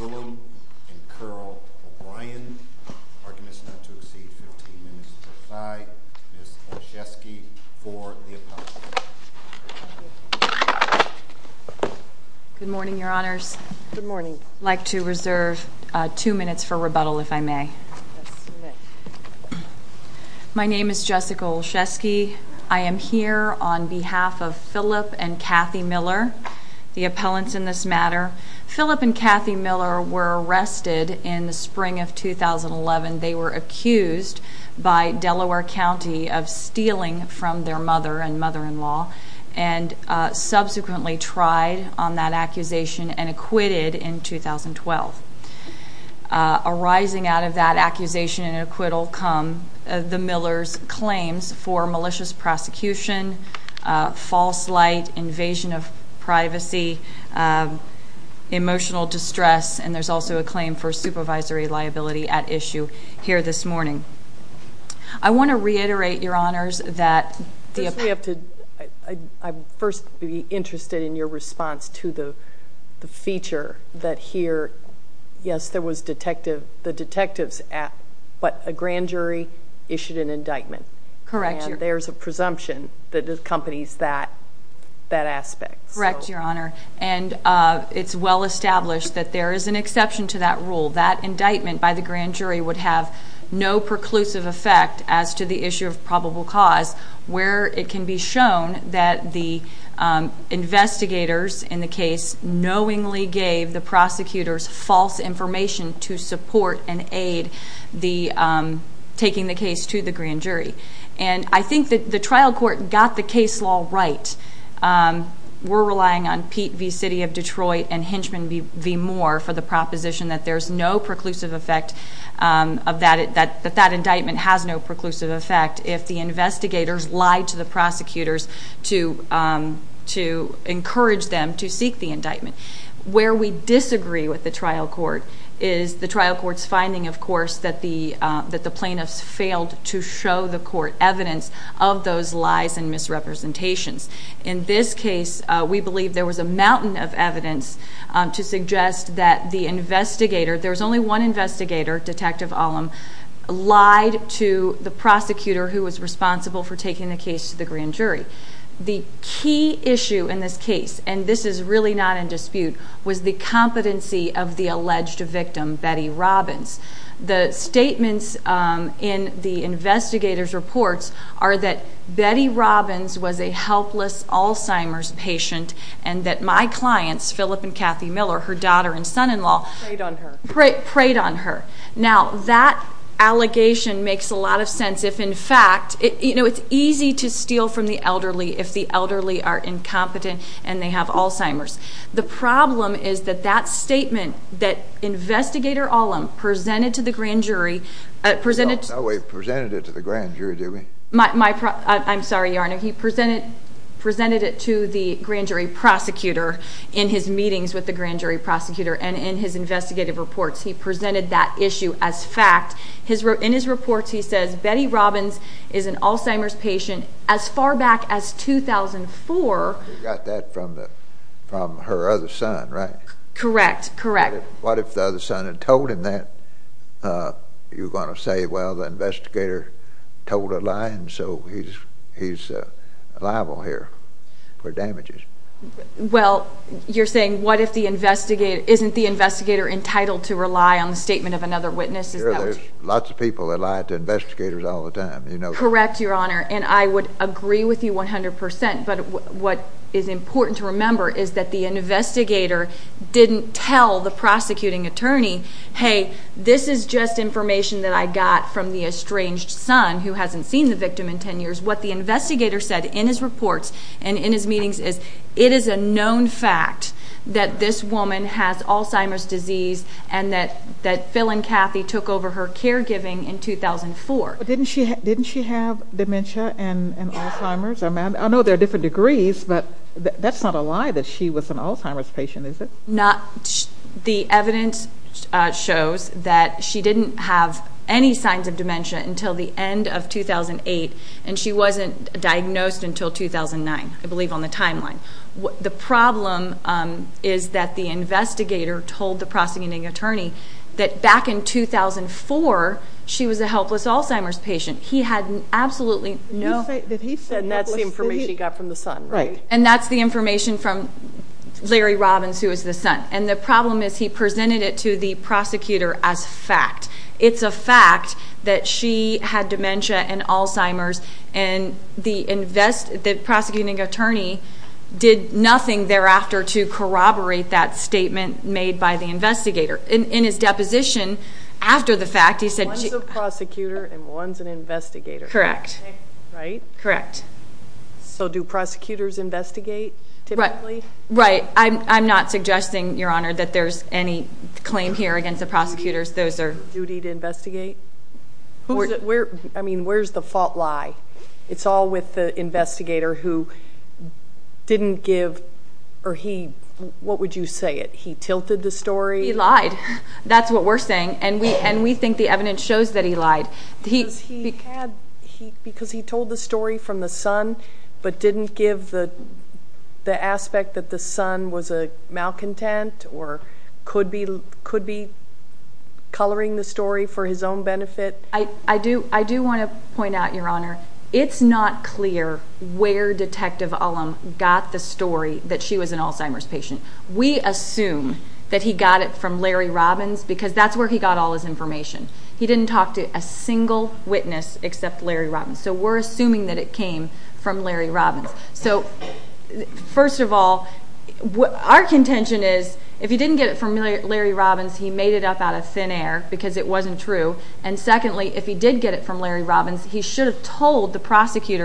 and Curl O'Brien. Our commission had to exceed 15 minutes to decide. Ms. Olszewski, for the apology. Good morning, Your Honors. I'd like to reserve two minutes for rebuttal, if I may. My name is Jessica Olszewski. I am here on behalf of Philip and Kathy Miller, the appellants in this matter. Philip and Kathy Miller were arrested in the spring of 2011. They were subsequently tried on that accusation and acquitted in 2012. Arising out of that accusation and acquittal come the Millers' claims for malicious prosecution, false light, invasion of privacy, emotional distress, and there's also a claim for supervisory liability at First, I'd be interested in your response to the feature that here, yes, there was the detective's act, but a grand jury issued an indictment. Correct, Your Honor. And there's a presumption that accompanies that aspect. Correct, Your Honor. And it's well established that there is an exception to that rule. That indictment by the grand jury would have no preclusive effect as to the issue of probable cause, where it can be shown that the investigators in the case knowingly gave the prosecutors false information to support and aid the taking the case to the grand jury. And I think that the trial court got the case law right. We're relying on Pete v. City of Detroit and Hinchman v. Moore for the proposition that there's no preclusive effect, that that indictment has no preclusive effect if the investigators lied to the prosecutors to encourage them to seek the indictment. Where we disagree with the trial court is the trial court's finding, of course, that the plaintiffs failed to show the court evidence of those lies and misrepresentations. In this case, we believe there was a mountain of evidence to suggest that the investigator, there was only one investigator, Detective Olem, lied to the prosecutor who was responsible for taking the case to the grand jury. The key issue in this case, and this is really not in dispute, was the competency of the alleged victim, Betty Robbins. The statements in the investigator's reports are that Betty Robbins was a helpless Alzheimer's patient and that my clients, Phillip and Kathy Miller, her daughter and son-in-law, preyed on her. Now, that allegation makes a lot of sense if in fact, you know, it's easy to steal from the elderly if the elderly are incompetent and they have Alzheimer's. The problem is that that statement that Investigator Olem presented to the grand jury... No, he presented it to the grand jury, did he? I'm sorry, Your Honor. He presented it to the grand jury prosecutor in his meetings with the grand jury prosecutor and in his investigative reports. He presented that issue as fact. In his reports, he says Betty Robbins is an Alzheimer's patient. You're going to say, well, the investigator told a lie and so he's liable here for damages. Well, you're saying what if the investigator... isn't the investigator entitled to rely on the statement of another witness? Sure, there's lots of people that lie to investigators all the time. Correct, Your Honor, and I would information that I got from the estranged son who hasn't seen the victim in 10 years. What the investigator said in his reports and in his meetings is it is a known fact that this woman has Alzheimer's disease and that Phil and Kathy took over her caregiving in 2004. Didn't she have dementia and Alzheimer's? I know there are different degrees, but that's not a lie that she was an Alzheimer's patient, is it? The evidence shows that she didn't have any signs of dementia until the end of 2008 and she wasn't diagnosed until 2009, I believe on the timeline. The problem is that the investigator told the prosecuting attorney that back in 2004, she was a helpless Alzheimer's patient. He had absolutely no... And that's the information he got from the son, right? And that's the information from Larry Robbins, who is the son. And the problem is he presented it to the prosecutor as fact. It's a fact that she had dementia and Alzheimer's and the prosecuting attorney did nothing thereafter to corroborate that statement made by the investigator. In his deposition, after the fact, he said... One's a prosecutor and one's an investigator. Correct. Right? Correct. So do prosecutors investigate typically? Right. I'm not suggesting, Your Honor, that there's any claim here against the prosecutors. Those are... Duty to investigate? I mean, where's the fault lie? It's all with the investigator who didn't give... Or he... What would you say it? He tilted the story? He lied. That's what we're saying. And we think the evidence shows that he lied. Because he told the story from the son but didn't give the aspect that the son was a Alzheimer's patient. We assume that he got it from Larry Robbins because that's where he got all his information. He didn't talk to a single witness except Larry Robbins. So we're assuming that it came from Larry Robbins. So first of all, our contention is if he didn't get it from Larry Robbins, he made it up out of thin air because it wasn't true. And secondly, if he did get it from Larry Robbins, he should have told the established fact. If he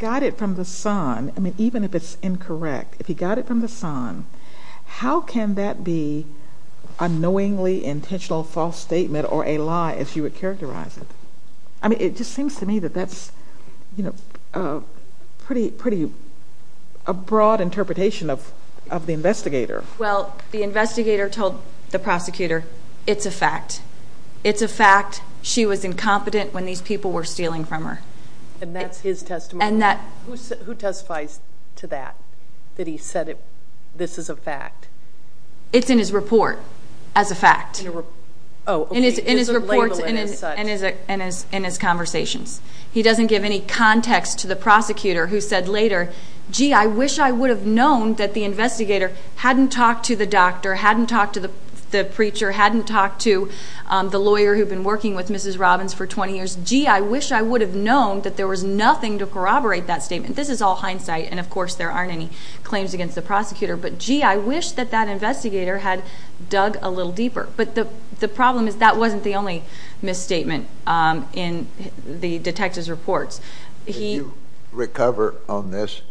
got it from the son, even if it's incorrect, if he got it from the son, how can that be a knowingly intentional false statement or a lie if you would characterize it? I mean, it just seems to me that that's a pretty broad interpretation of the investigator. Well, the investigator told the prosecutor, it's a fact. It's a fact she was incompetent when these people were stealing from her. And that's his testimony? And that... Who testifies to that? That he said this is a fact? It's in his report as a fact. In his reports and in his conversations. He doesn't give any context to the prosecutor who said later, gee, I wish I would have known that the investigator hadn't talked to the doctor, hadn't talked to the preacher, hadn't talked to the lawyer who'd been working with Mrs. Robbins for 20 years. Gee, I wish I would have known that there was nothing to corroborate that statement. This is all hindsight. And of course, there aren't any claims against the prosecutor. But gee, I wish that that investigator had dug a little deeper. But the problem is that wasn't the only misstatement in the detective's reports. Would you recover on this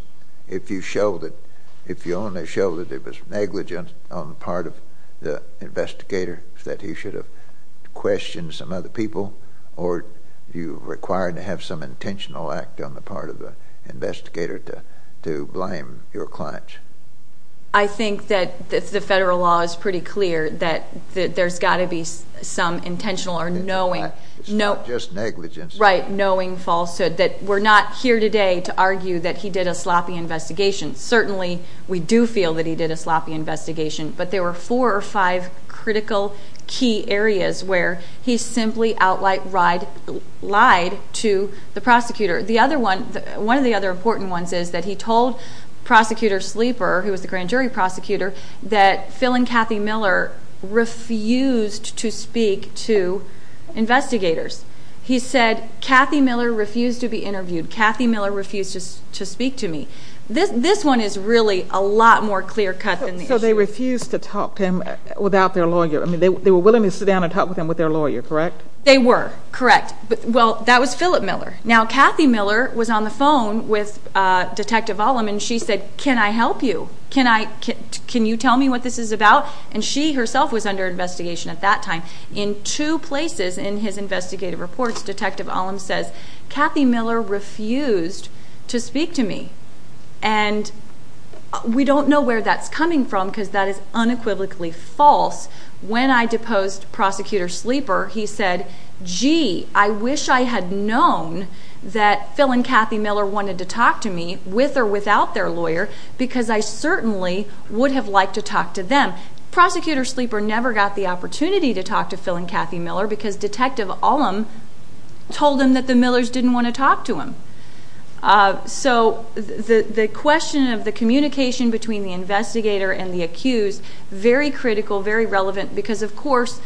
if you only showed that it was negligent on the part of the investigator, that he should have questioned some other people? Or are you required to have some intentional act on the part of the investigator to blame your clients? I think that the federal law is pretty clear that there's got to be some intentional or knowing... It's not just negligence. Right. Knowing falsehood. That we're not here today to argue that he did a sloppy investigation. Certainly, we do feel that he did a sloppy investigation. But there were four or five critical key areas where he simply lied to the prosecutor. One of the other important ones is that he told Prosecutor Sleeper, who was the grand jury prosecutor, that Phil and Kathy Miller refused to speak to investigators. He said, Kathy Miller refused to be interviewed. Kathy Miller refused to speak to me. This one is really a lot more clear cut than the other. They refused to talk to him without their lawyer. I mean, they were willing to sit down and talk with him with their lawyer, correct? They were. Correct. Well, that was Philip Miller. Now, Kathy Miller was on the phone with Detective Ollam and she said, can I help you? Can you tell me what this is about? And she herself was under investigation at that time. In two places in his investigative reports, Detective Ollam says, Kathy Miller refused to speak to me. And we don't know where that's coming from because that is unequivocally false. When I deposed Prosecutor Sleeper, he said, gee, I wish I had known that Phil and Kathy Miller wanted to talk to me, with or without their lawyer, because I certainly would have liked to talk to them. Prosecutor Sleeper never got the opportunity to talk to Phil and Kathy Miller because Detective Ollam told him that the Millers didn't want to talk to him. So, the question of the communication between the investigator and the accused, very critical, very relevant, because of course,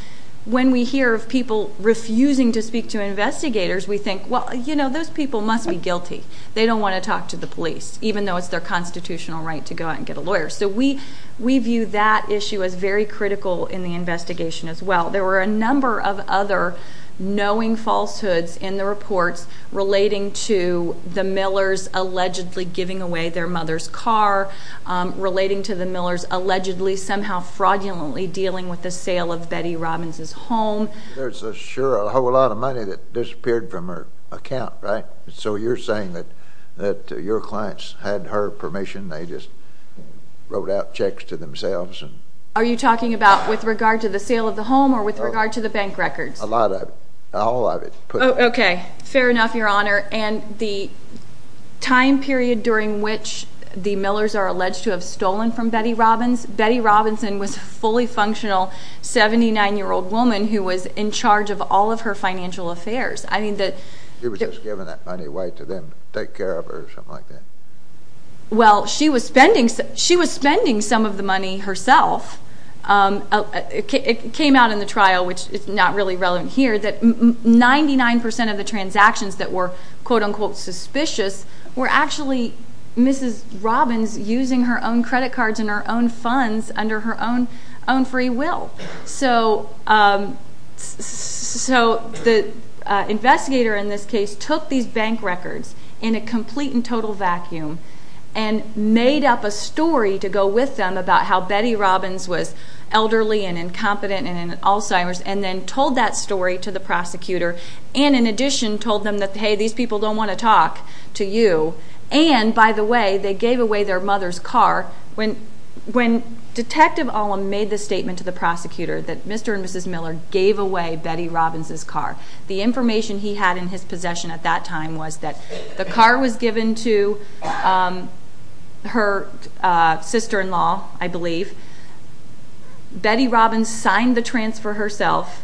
when we hear of people refusing to speak to investigators, we think, well, you know, those people must be guilty. They don't want to talk to the police, even though it's their constitutional right to go out and get a lawyer. So, we view that issue as very critical in the investigation as well. There were a number of other knowing falsehoods in the reports relating to the Millers allegedly giving away their mother's car, relating to the Millers allegedly somehow fraudulently dealing with the sale of Betty Robbins' home. There's sure a whole lot of money that disappeared from her account, right? So, you're saying that your clients had her permission, they just wrote out checks to themselves? Are you talking about with regard to the sale of the home or with regard to the bank records? A lot of it. All of it. Okay. Fair enough, Your Honor. And the time period during which the Millers are alleged to have stolen from Betty Robbins, Betty Robinson was a fully functional 79-year-old woman who was in charge of all of her financial affairs. She was just giving that money away to them to take care of her or something like that? Well, she was spending some of the money herself. It came out in the trial, which is not really relevant here, that 99% of the transactions that were quote-unquote suspicious were actually Mrs. Robbins using her own credit cards and her own funds under her own free will. So, the investigator in this case took these bank records in a complete and total vacuum and made up a story to go with them about how Betty Robbins was elderly and incompetent and in Alzheimer's and then told that story to the prosecutor. And, in addition, told them that, hey, these people don't want to talk to you. And, by the way, they gave away their mother's car. When Detective Olam made the statement to the prosecutor that Mr. and Mrs. Miller gave away Betty Robbins' car, the information he had in his possession at that time was that the car was given to her sister-in-law, I believe. Betty Robbins signed the transfer herself.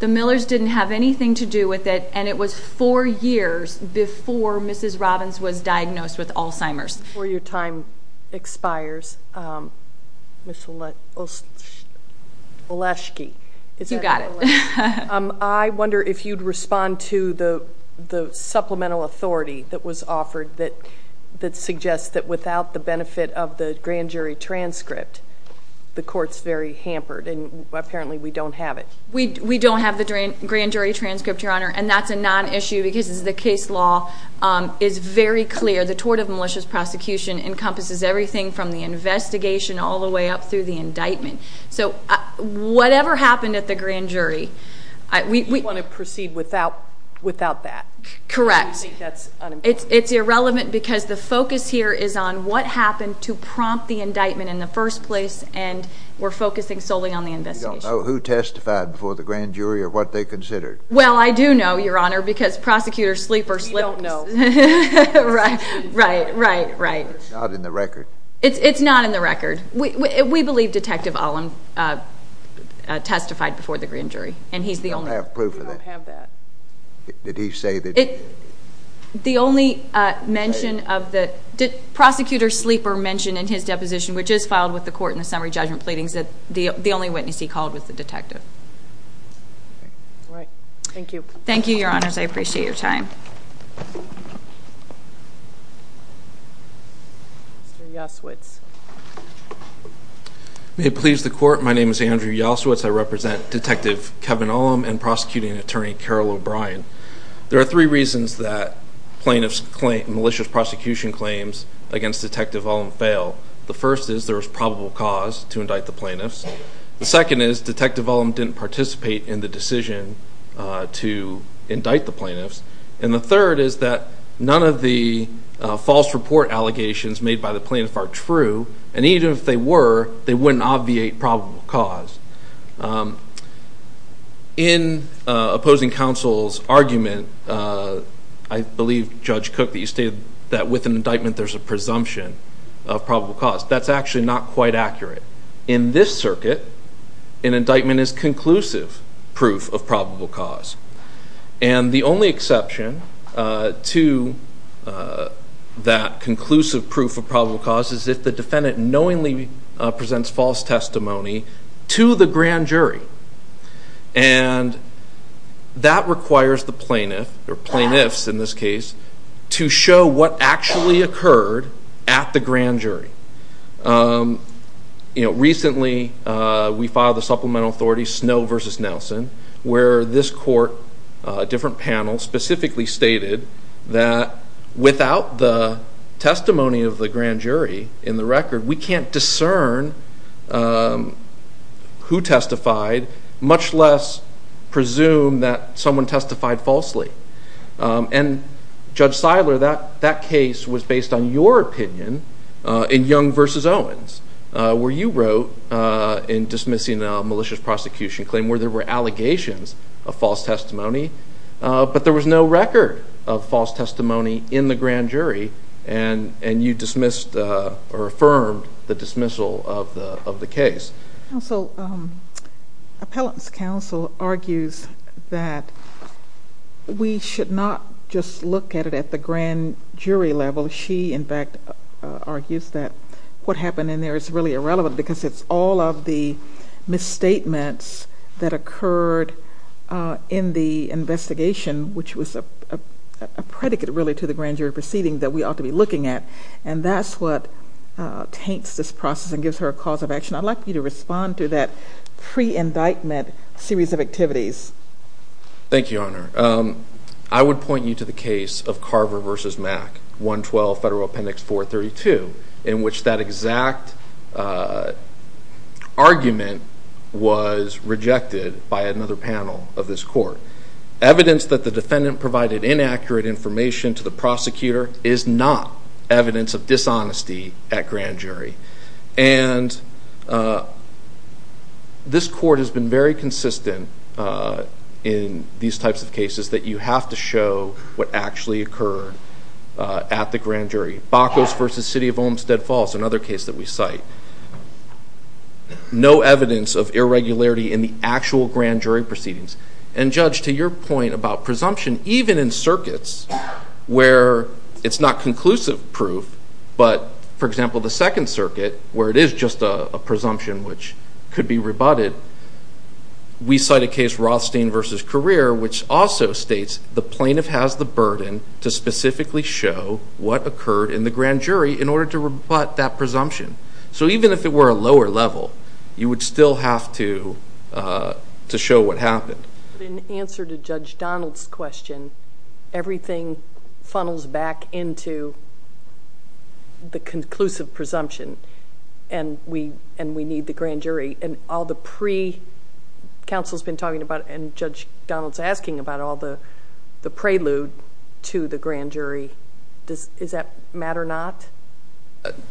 The Millers didn't have anything to do with it, and it was four years before Mrs. Robbins was diagnosed with Alzheimer's. Before your time expires, Ms. Olashke. You got it. I wonder if you'd respond to the supplemental authority that was offered that suggests that without the benefit of the grand jury transcript, the court's very hampered, and apparently we don't have it. We don't have the grand jury transcript, Your Honor, and that's a non-issue because the case law is very clear. The tort of malicious prosecution encompasses everything from the investigation all the way up through the indictment. So, whatever happened at the grand jury— You want to proceed without that. Correct. I think that's unimportant. It's irrelevant because the focus here is on what happened to prompt the indictment in the first place, and we're focusing solely on the investigation. You don't know who testified before the grand jury or what they considered? Well, I do know, Your Honor, because Prosecutor Sleeper slipped— We don't know. Right, right, right, right. It's not in the record. It's not in the record. We believe Detective Olin testified before the grand jury, and he's the only— We don't have proof of that. We don't have that. Did he say that— The only mention of the— Prosecutor Sleeper mentioned in his deposition, which is filed with the court in the summary judgment pleadings, that the only witness he called was the detective. All right. Thank you. Thank you, Your Honors. I appreciate your time. Mr. Yasowitz. May it please the Court, my name is Andrew Yasowitz. I represent Detective Kevin Ullum and prosecuting attorney Carol O'Brien. There are three reasons that plaintiffs' malicious prosecution claims against Detective Ullum fail. The first is there was probable cause to indict the plaintiffs. The second is Detective Ullum didn't participate in the decision to indict the plaintiffs. And the third is that none of the false report allegations made by the plaintiff are true, and even if they were, they wouldn't obviate probable cause. In opposing counsel's argument, I believe, Judge Cook, that you stated that with an indictment there's a presumption of probable cause. That's actually not quite accurate. In this circuit, an indictment is conclusive proof of probable cause. And the only exception to that conclusive proof of probable cause is if the defendant knowingly presents false testimony to the grand jury. And that requires the plaintiff, or plaintiffs in this case, to show what actually occurred at the grand jury. Recently, we filed a supplemental authority, Snow v. Nelson, where this court, a different panel, specifically stated that without the testimony of the grand jury in the record, we can't discern who testified, much less presume that someone testified falsely. And, Judge Seidler, that case was based on your opinion in Young v. Owens, where you wrote in dismissing a malicious prosecution claim where there were allegations of false testimony, but there was no record of false testimony in the grand jury, and you dismissed or affirmed the dismissal of the case. Counsel, Appellant's counsel argues that we should not just look at it at the grand jury level. She, in fact, argues that what happened in there is really irrelevant because it's all of the misstatements that occurred in the investigation, which was a predicate, really, to the grand jury proceeding that we ought to be looking at. And that's what taints this process and gives her a cause of action. I'd like you to respond to that pre-indictment series of activities. Thank you, Honor. I would point you to the case of Carver v. Mack, 112 Federal Appendix 432, in which that exact argument was rejected by another panel of this court. Evidence that the defendant provided inaccurate information to the prosecutor is not evidence of dishonesty at grand jury. And this court has been very consistent in these types of cases that you have to show what actually occurred at the grand jury. Bacos v. City of Olmstead Falls, another case that we cite, no evidence of irregularity in the actual grand jury proceedings. And, Judge, to your point about presumption, even in circuits where it's not conclusive proof, but, for example, the Second Circuit, where it is just a presumption which could be rebutted, we cite a case, Rothstein v. Carrere, which also states the plaintiff has the burden to specifically show what occurred in the grand jury in order to rebut that presumption. So even if it were a lower level, you would still have to show what happened. In answer to Judge Donald's question, everything funnels back into the conclusive presumption, and we need the grand jury. And all the pre-counsel has been talking about, and Judge Donald's asking about all the prelude to the grand jury, does that matter or not?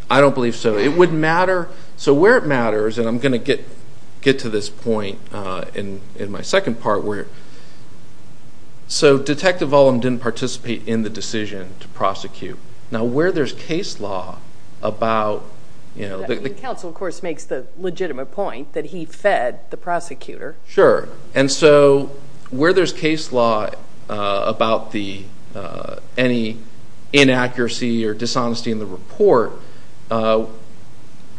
I don't believe so. It would matter. So where it matters, and I'm going to get to this point in my second part, so Detective Olm didn't participate in the decision to prosecute. Now, where there's case law about the- The counsel, of course, makes the legitimate point that he fed the prosecutor. Sure. And so where there's case law about any inaccuracy or dishonesty in the report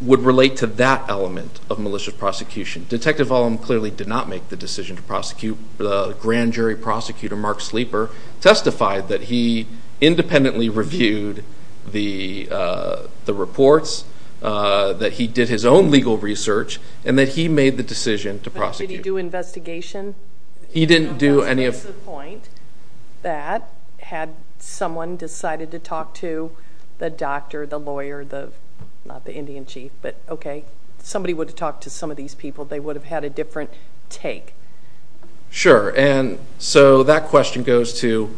would relate to that element of malicious prosecution. Detective Olm clearly did not make the decision to prosecute. The grand jury prosecutor, Mark Sleeper, testified that he independently reviewed the reports, that he did his own legal research, and that he made the decision to prosecute. Did he do investigation? He didn't do any of- He makes the point that had someone decided to talk to the doctor, the lawyer, not the Indian chief, but okay, somebody would have talked to some of these people. They would have had a different take. Sure. And so that question goes to,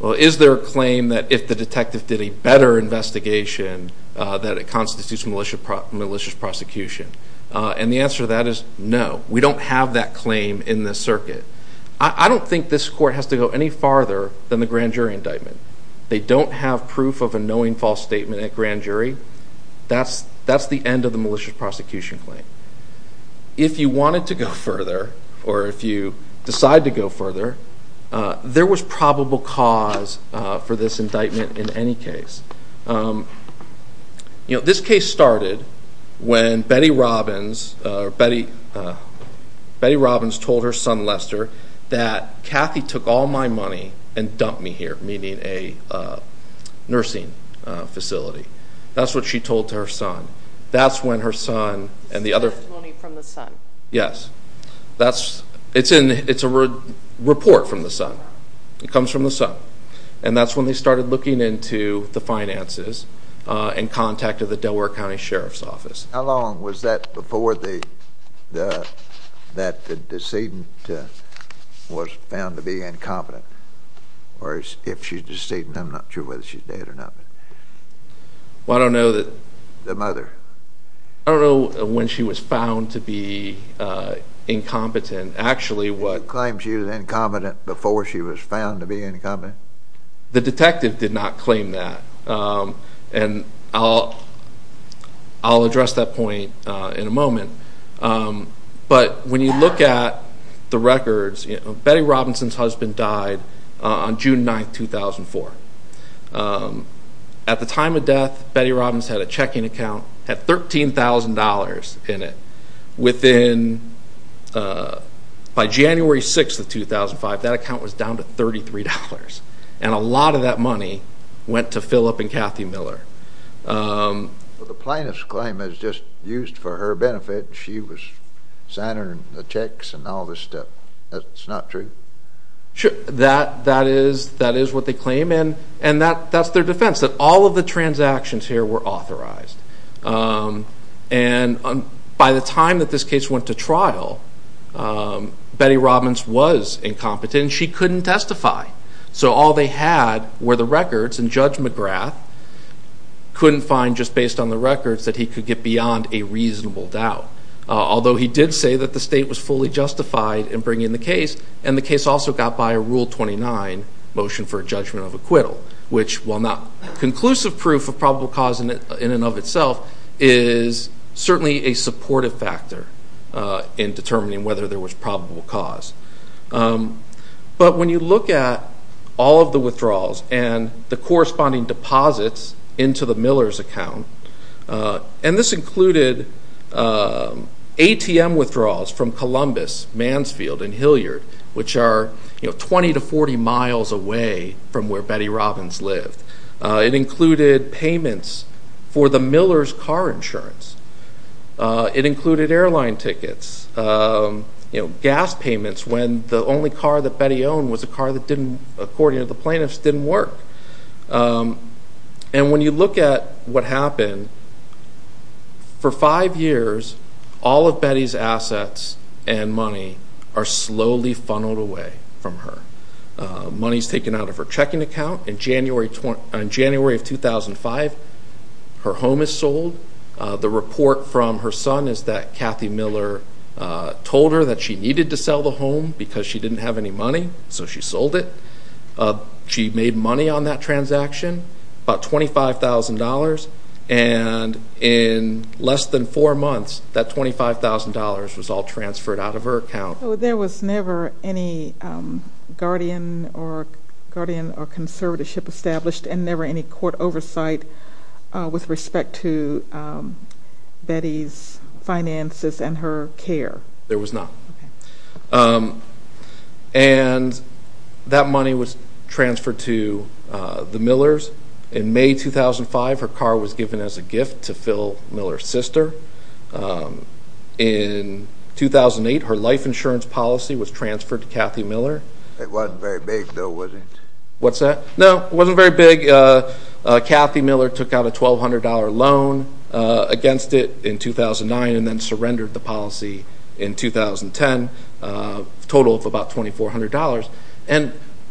well, is there a claim that if the detective did a better investigation that it constitutes malicious prosecution? And the answer to that is no. We don't have that claim in this circuit. I don't think this court has to go any farther than the grand jury indictment. They don't have proof of a knowing false statement at grand jury. That's the end of the malicious prosecution claim. If you wanted to go further or if you decide to go further, there was probable cause for this indictment in any case. This case started when Betty Robbins told her son, Lester, that Kathy took all my money and dumped me here, meaning a nursing facility. That's what she told her son. That's when her son and the other- This testimony from the son. Yes. It's a report from the son. It comes from the son. And that's when they started looking into the finances and contacted the Delaware County Sheriff's Office. How long was that before the decedent was found to be incompetent? Or if she's decedent, I'm not sure whether she's dead or not. Well, I don't know that- The mother. I don't know when she was found to be incompetent. Did you claim she was incompetent before she was found to be incompetent? The detective did not claim that. And I'll address that point in a moment. But when you look at the records, Betty Robinson's husband died on June 9, 2004. At the time of death, Betty Robbins had a checking account, had $13,000 in it. By January 6 of 2005, that account was down to $33. And a lot of that money went to Philip and Kathy Miller. The plaintiff's claim is just used for her benefit. She was signing the checks and all this stuff. That's not true? That is what they claim. And that's their defense, that all of the transactions here were authorized. And by the time that this case went to trial, Betty Robbins was incompetent and she couldn't testify. So all they had were the records, and Judge McGrath couldn't find, just based on the records, that he could get beyond a reasonable doubt. Although he did say that the state was fully justified in bringing the case, and the case also got by a Rule 29 motion for a judgment of acquittal, which, while not conclusive proof of probable cause in and of itself, is certainly a supportive factor in determining whether there was probable cause. But when you look at all of the withdrawals and the corresponding deposits into the Miller's account, and this included ATM withdrawals from Columbus, Mansfield, and Hilliard, which are 20 to 40 miles away from where Betty Robbins lived. It included payments for the Miller's car insurance. It included airline tickets, gas payments, when the only car that Betty owned was a car that, according to the plaintiffs, didn't work. And when you look at what happened, for five years, all of Betty's assets and money are slowly funneled away from her. Money is taken out of her checking account. In January of 2005, her home is sold. The report from her son is that Kathy Miller told her that she needed to sell the home because she didn't have any money, so she sold it. She made money on that transaction, about $25,000, and in less than four months, that $25,000 was all transferred out of her account. So there was never any guardian or conservatorship established and never any court oversight with respect to Betty's finances and her care? There was not. Okay. And that money was transferred to the Miller's. In May 2005, her car was given as a gift to Phil Miller's sister. In 2008, her life insurance policy was transferred to Kathy Miller. It wasn't very big, though, was it? What's that? No, it wasn't very big. Kathy Miller took out a $1,200 loan against it in 2009 and then surrendered the policy in 2010, a total of about $2,400.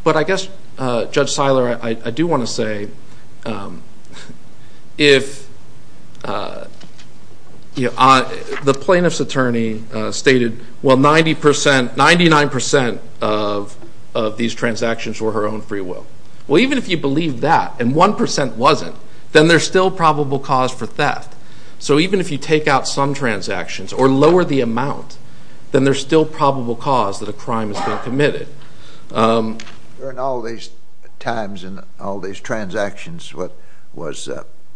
But I guess, Judge Seiler, I do want to say if the plaintiff's attorney stated, well, 99% of these transactions were her own free will. Well, even if you believe that and 1% wasn't, then there's still probable cause for theft. So even if you take out some transactions or lower the amount, then there's still probable cause that a crime has been committed. During all these times and all these transactions, was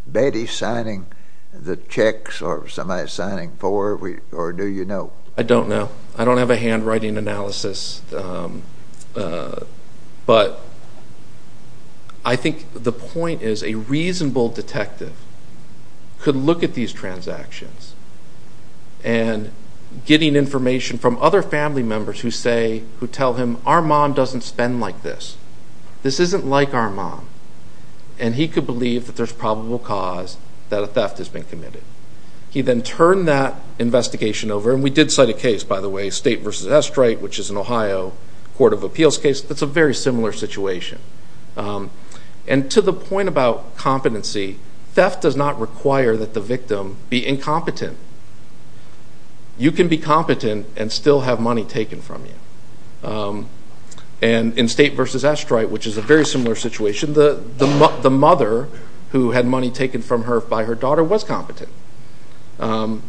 Betty signing the checks or somebody signing for her or do you know? I don't know. I don't have a handwriting analysis. But I think the point is a reasonable detective could look at these transactions and getting information from other family members who tell him, our mom doesn't spend like this. This isn't like our mom. And he could believe that there's probable cause that a theft has been committed. He then turned that investigation over, and we did cite a case, by the way, State v. Estrite, which is an Ohio Court of Appeals case. That's a very similar situation. And to the point about competency, theft does not require that the victim be incompetent. You can be competent and still have money taken from you. And in State v. Estrite, which is a very similar situation, the mother who had money taken from her by her daughter was competent. I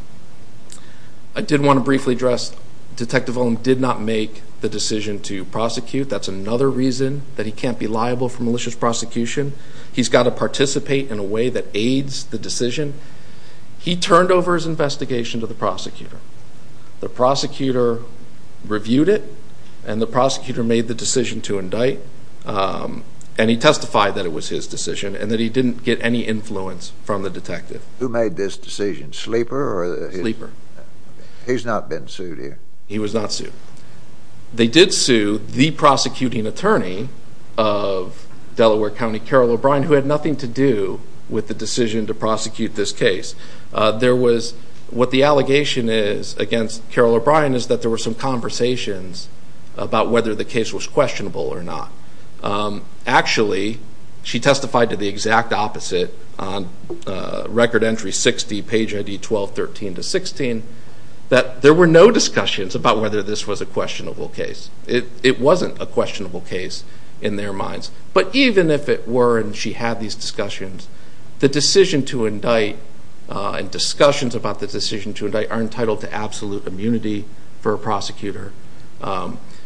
did want to briefly address Detective Olin did not make the decision to prosecute. That's another reason that he can't be liable for malicious prosecution. He's got to participate in a way that aids the decision. He turned over his investigation to the prosecutor. The prosecutor reviewed it, and the prosecutor made the decision to indict. And he testified that it was his decision and that he didn't get any influence from the detective. Who made this decision, Sleeper? Sleeper. He's not been sued here. He was not sued. They did sue the prosecuting attorney of Delaware County, Carol O'Brien, who had nothing to do with the decision to prosecute this case. What the allegation is against Carol O'Brien is that there were some conversations about whether the case was questionable or not. Actually, she testified to the exact opposite on Record Entry 60, Page ID 12-13-16, that there were no discussions about whether this was a questionable case. It wasn't a questionable case in their minds. But even if it were and she had these discussions, the decision to indict and discussions about the decision to indict are entitled to absolute immunity for a prosecutor.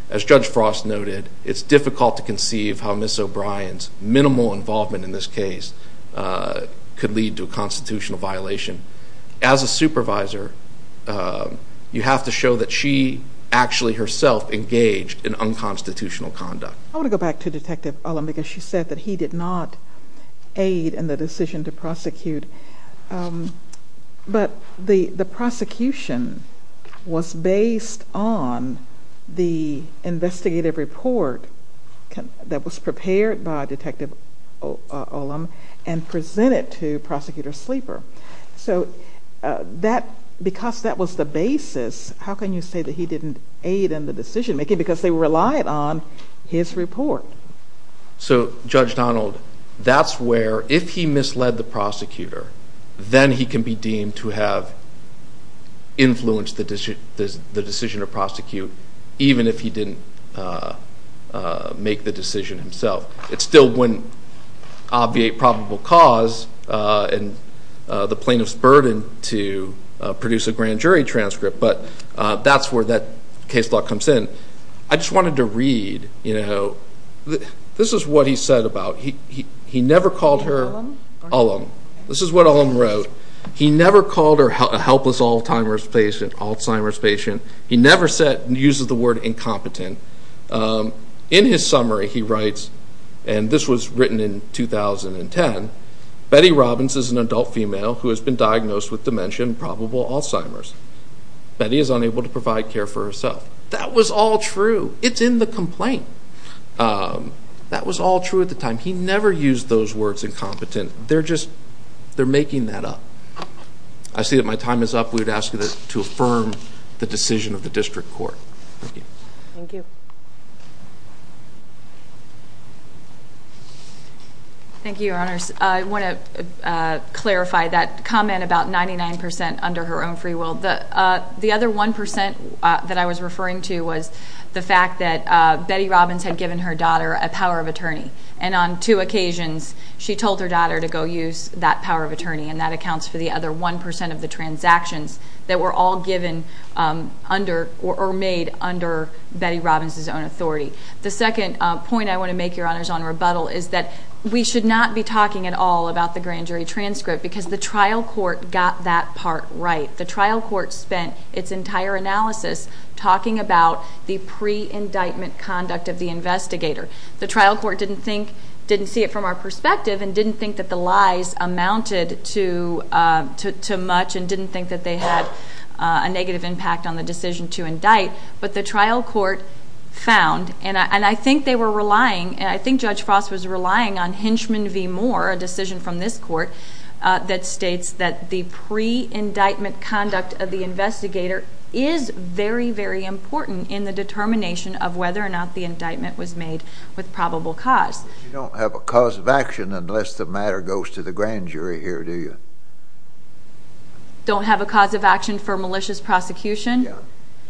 As Judge Frost noted, it's difficult to conceive how Ms. O'Brien's minimal involvement in this case could lead to a constitutional violation. As a supervisor, you have to show that she actually herself engaged in unconstitutional conduct. I want to go back to Detective Ullman because she said that he did not aid in the decision to prosecute. But the prosecution was based on the investigative report that was prepared by Detective Ullman and presented to Prosecutor Sleeper. So because that was the basis, how can you say that he didn't aid in the decision-making because they relied on his report? So Judge Donald, that's where if he misled the prosecutor, then he can be deemed to have influenced the decision to prosecute, even if he didn't make the decision himself. It still wouldn't obviate probable cause and the plaintiff's burden to produce a grand jury transcript, but that's where that case law comes in. I just wanted to read. This is what he said about he never called her... Ullman? Ullman. This is what Ullman wrote. He never called her a helpless Alzheimer's patient. He never uses the word incompetent. In his summary, he writes, and this was written in 2010, Betty Robbins is an adult female who has been diagnosed with dementia and probable Alzheimer's. Betty is unable to provide care for herself. That was all true. It's in the complaint. That was all true at the time. He never used those words, incompetent. They're just making that up. I see that my time is up. We would ask you to affirm the decision of the district court. Thank you. Thank you. Thank you, Your Honors. I want to clarify that comment about 99% under her own free will. The other 1% that I was referring to was the fact that Betty Robbins had given her daughter a power of attorney, and on two occasions she told her daughter to go use that power of attorney, and that accounts for the other 1% of the transactions that were all given under or made under Betty Robbins' own authority. The second point I want to make, Your Honors, on rebuttal is that we should not be talking at all about the grand jury transcript because the trial court got that part right. The trial court spent its entire analysis talking about the pre-indictment conduct of the investigator. The trial court didn't see it from our perspective and didn't think that the lies amounted to much and didn't think that they had a negative impact on the decision to indict, but the trial court found, and I think they were relying, and I think Judge Frost was relying on Hinchman v. Moore, a decision from this court, that states that the pre-indictment conduct of the investigator is very, very important in the determination of whether or not the indictment was made with probable cause. You don't have a cause of action unless the matter goes to the grand jury here, do you? Don't have a cause of action for malicious prosecution? Yeah,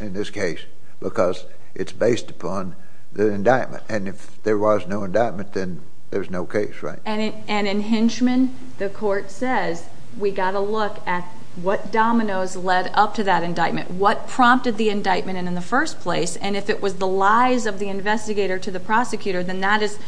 in this case, because it's based upon the indictment, and if there was no indictment, then there's no case, right? And in Hinchman, the court says, we've got to look at what dominoes led up to that indictment, what prompted the indictment in the first place, and if it was the lies of the investigator to the prosecutor, then that is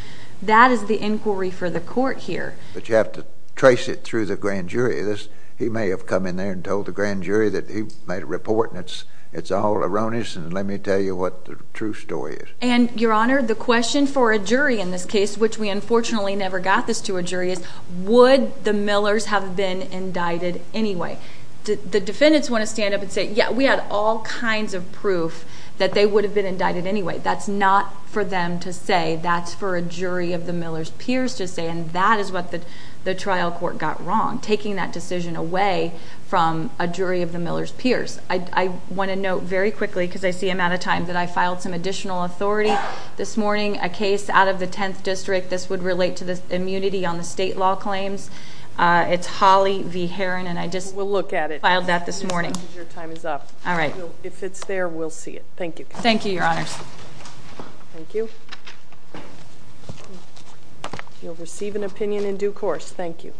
the inquiry for the court here. But you have to trace it through the grand jury. He may have come in there and told the grand jury that he made a report, and it's all erroneous, and let me tell you what the true story is. And, Your Honor, the question for a jury in this case, which we unfortunately never got this to a jury, is would the Millers have been indicted anyway? The defendants want to stand up and say, yeah, we had all kinds of proof that they would have been indicted anyway. That's not for them to say. That's for a jury of the Millers' peers to say, and that is what the trial court got wrong, taking that decision away from a jury of the Millers' peers. I want to note very quickly, because I see I'm out of time, that I filed some additional authority this morning, a case out of the 10th District. This would relate to the immunity on the state law claims. It's Holley v. Herron, and I just filed that this morning. We'll look at it. Your time is up. All right. If it's there, we'll see it. Thank you. Thank you, Your Honors. Thank you. You'll receive an opinion in due course. Thank you.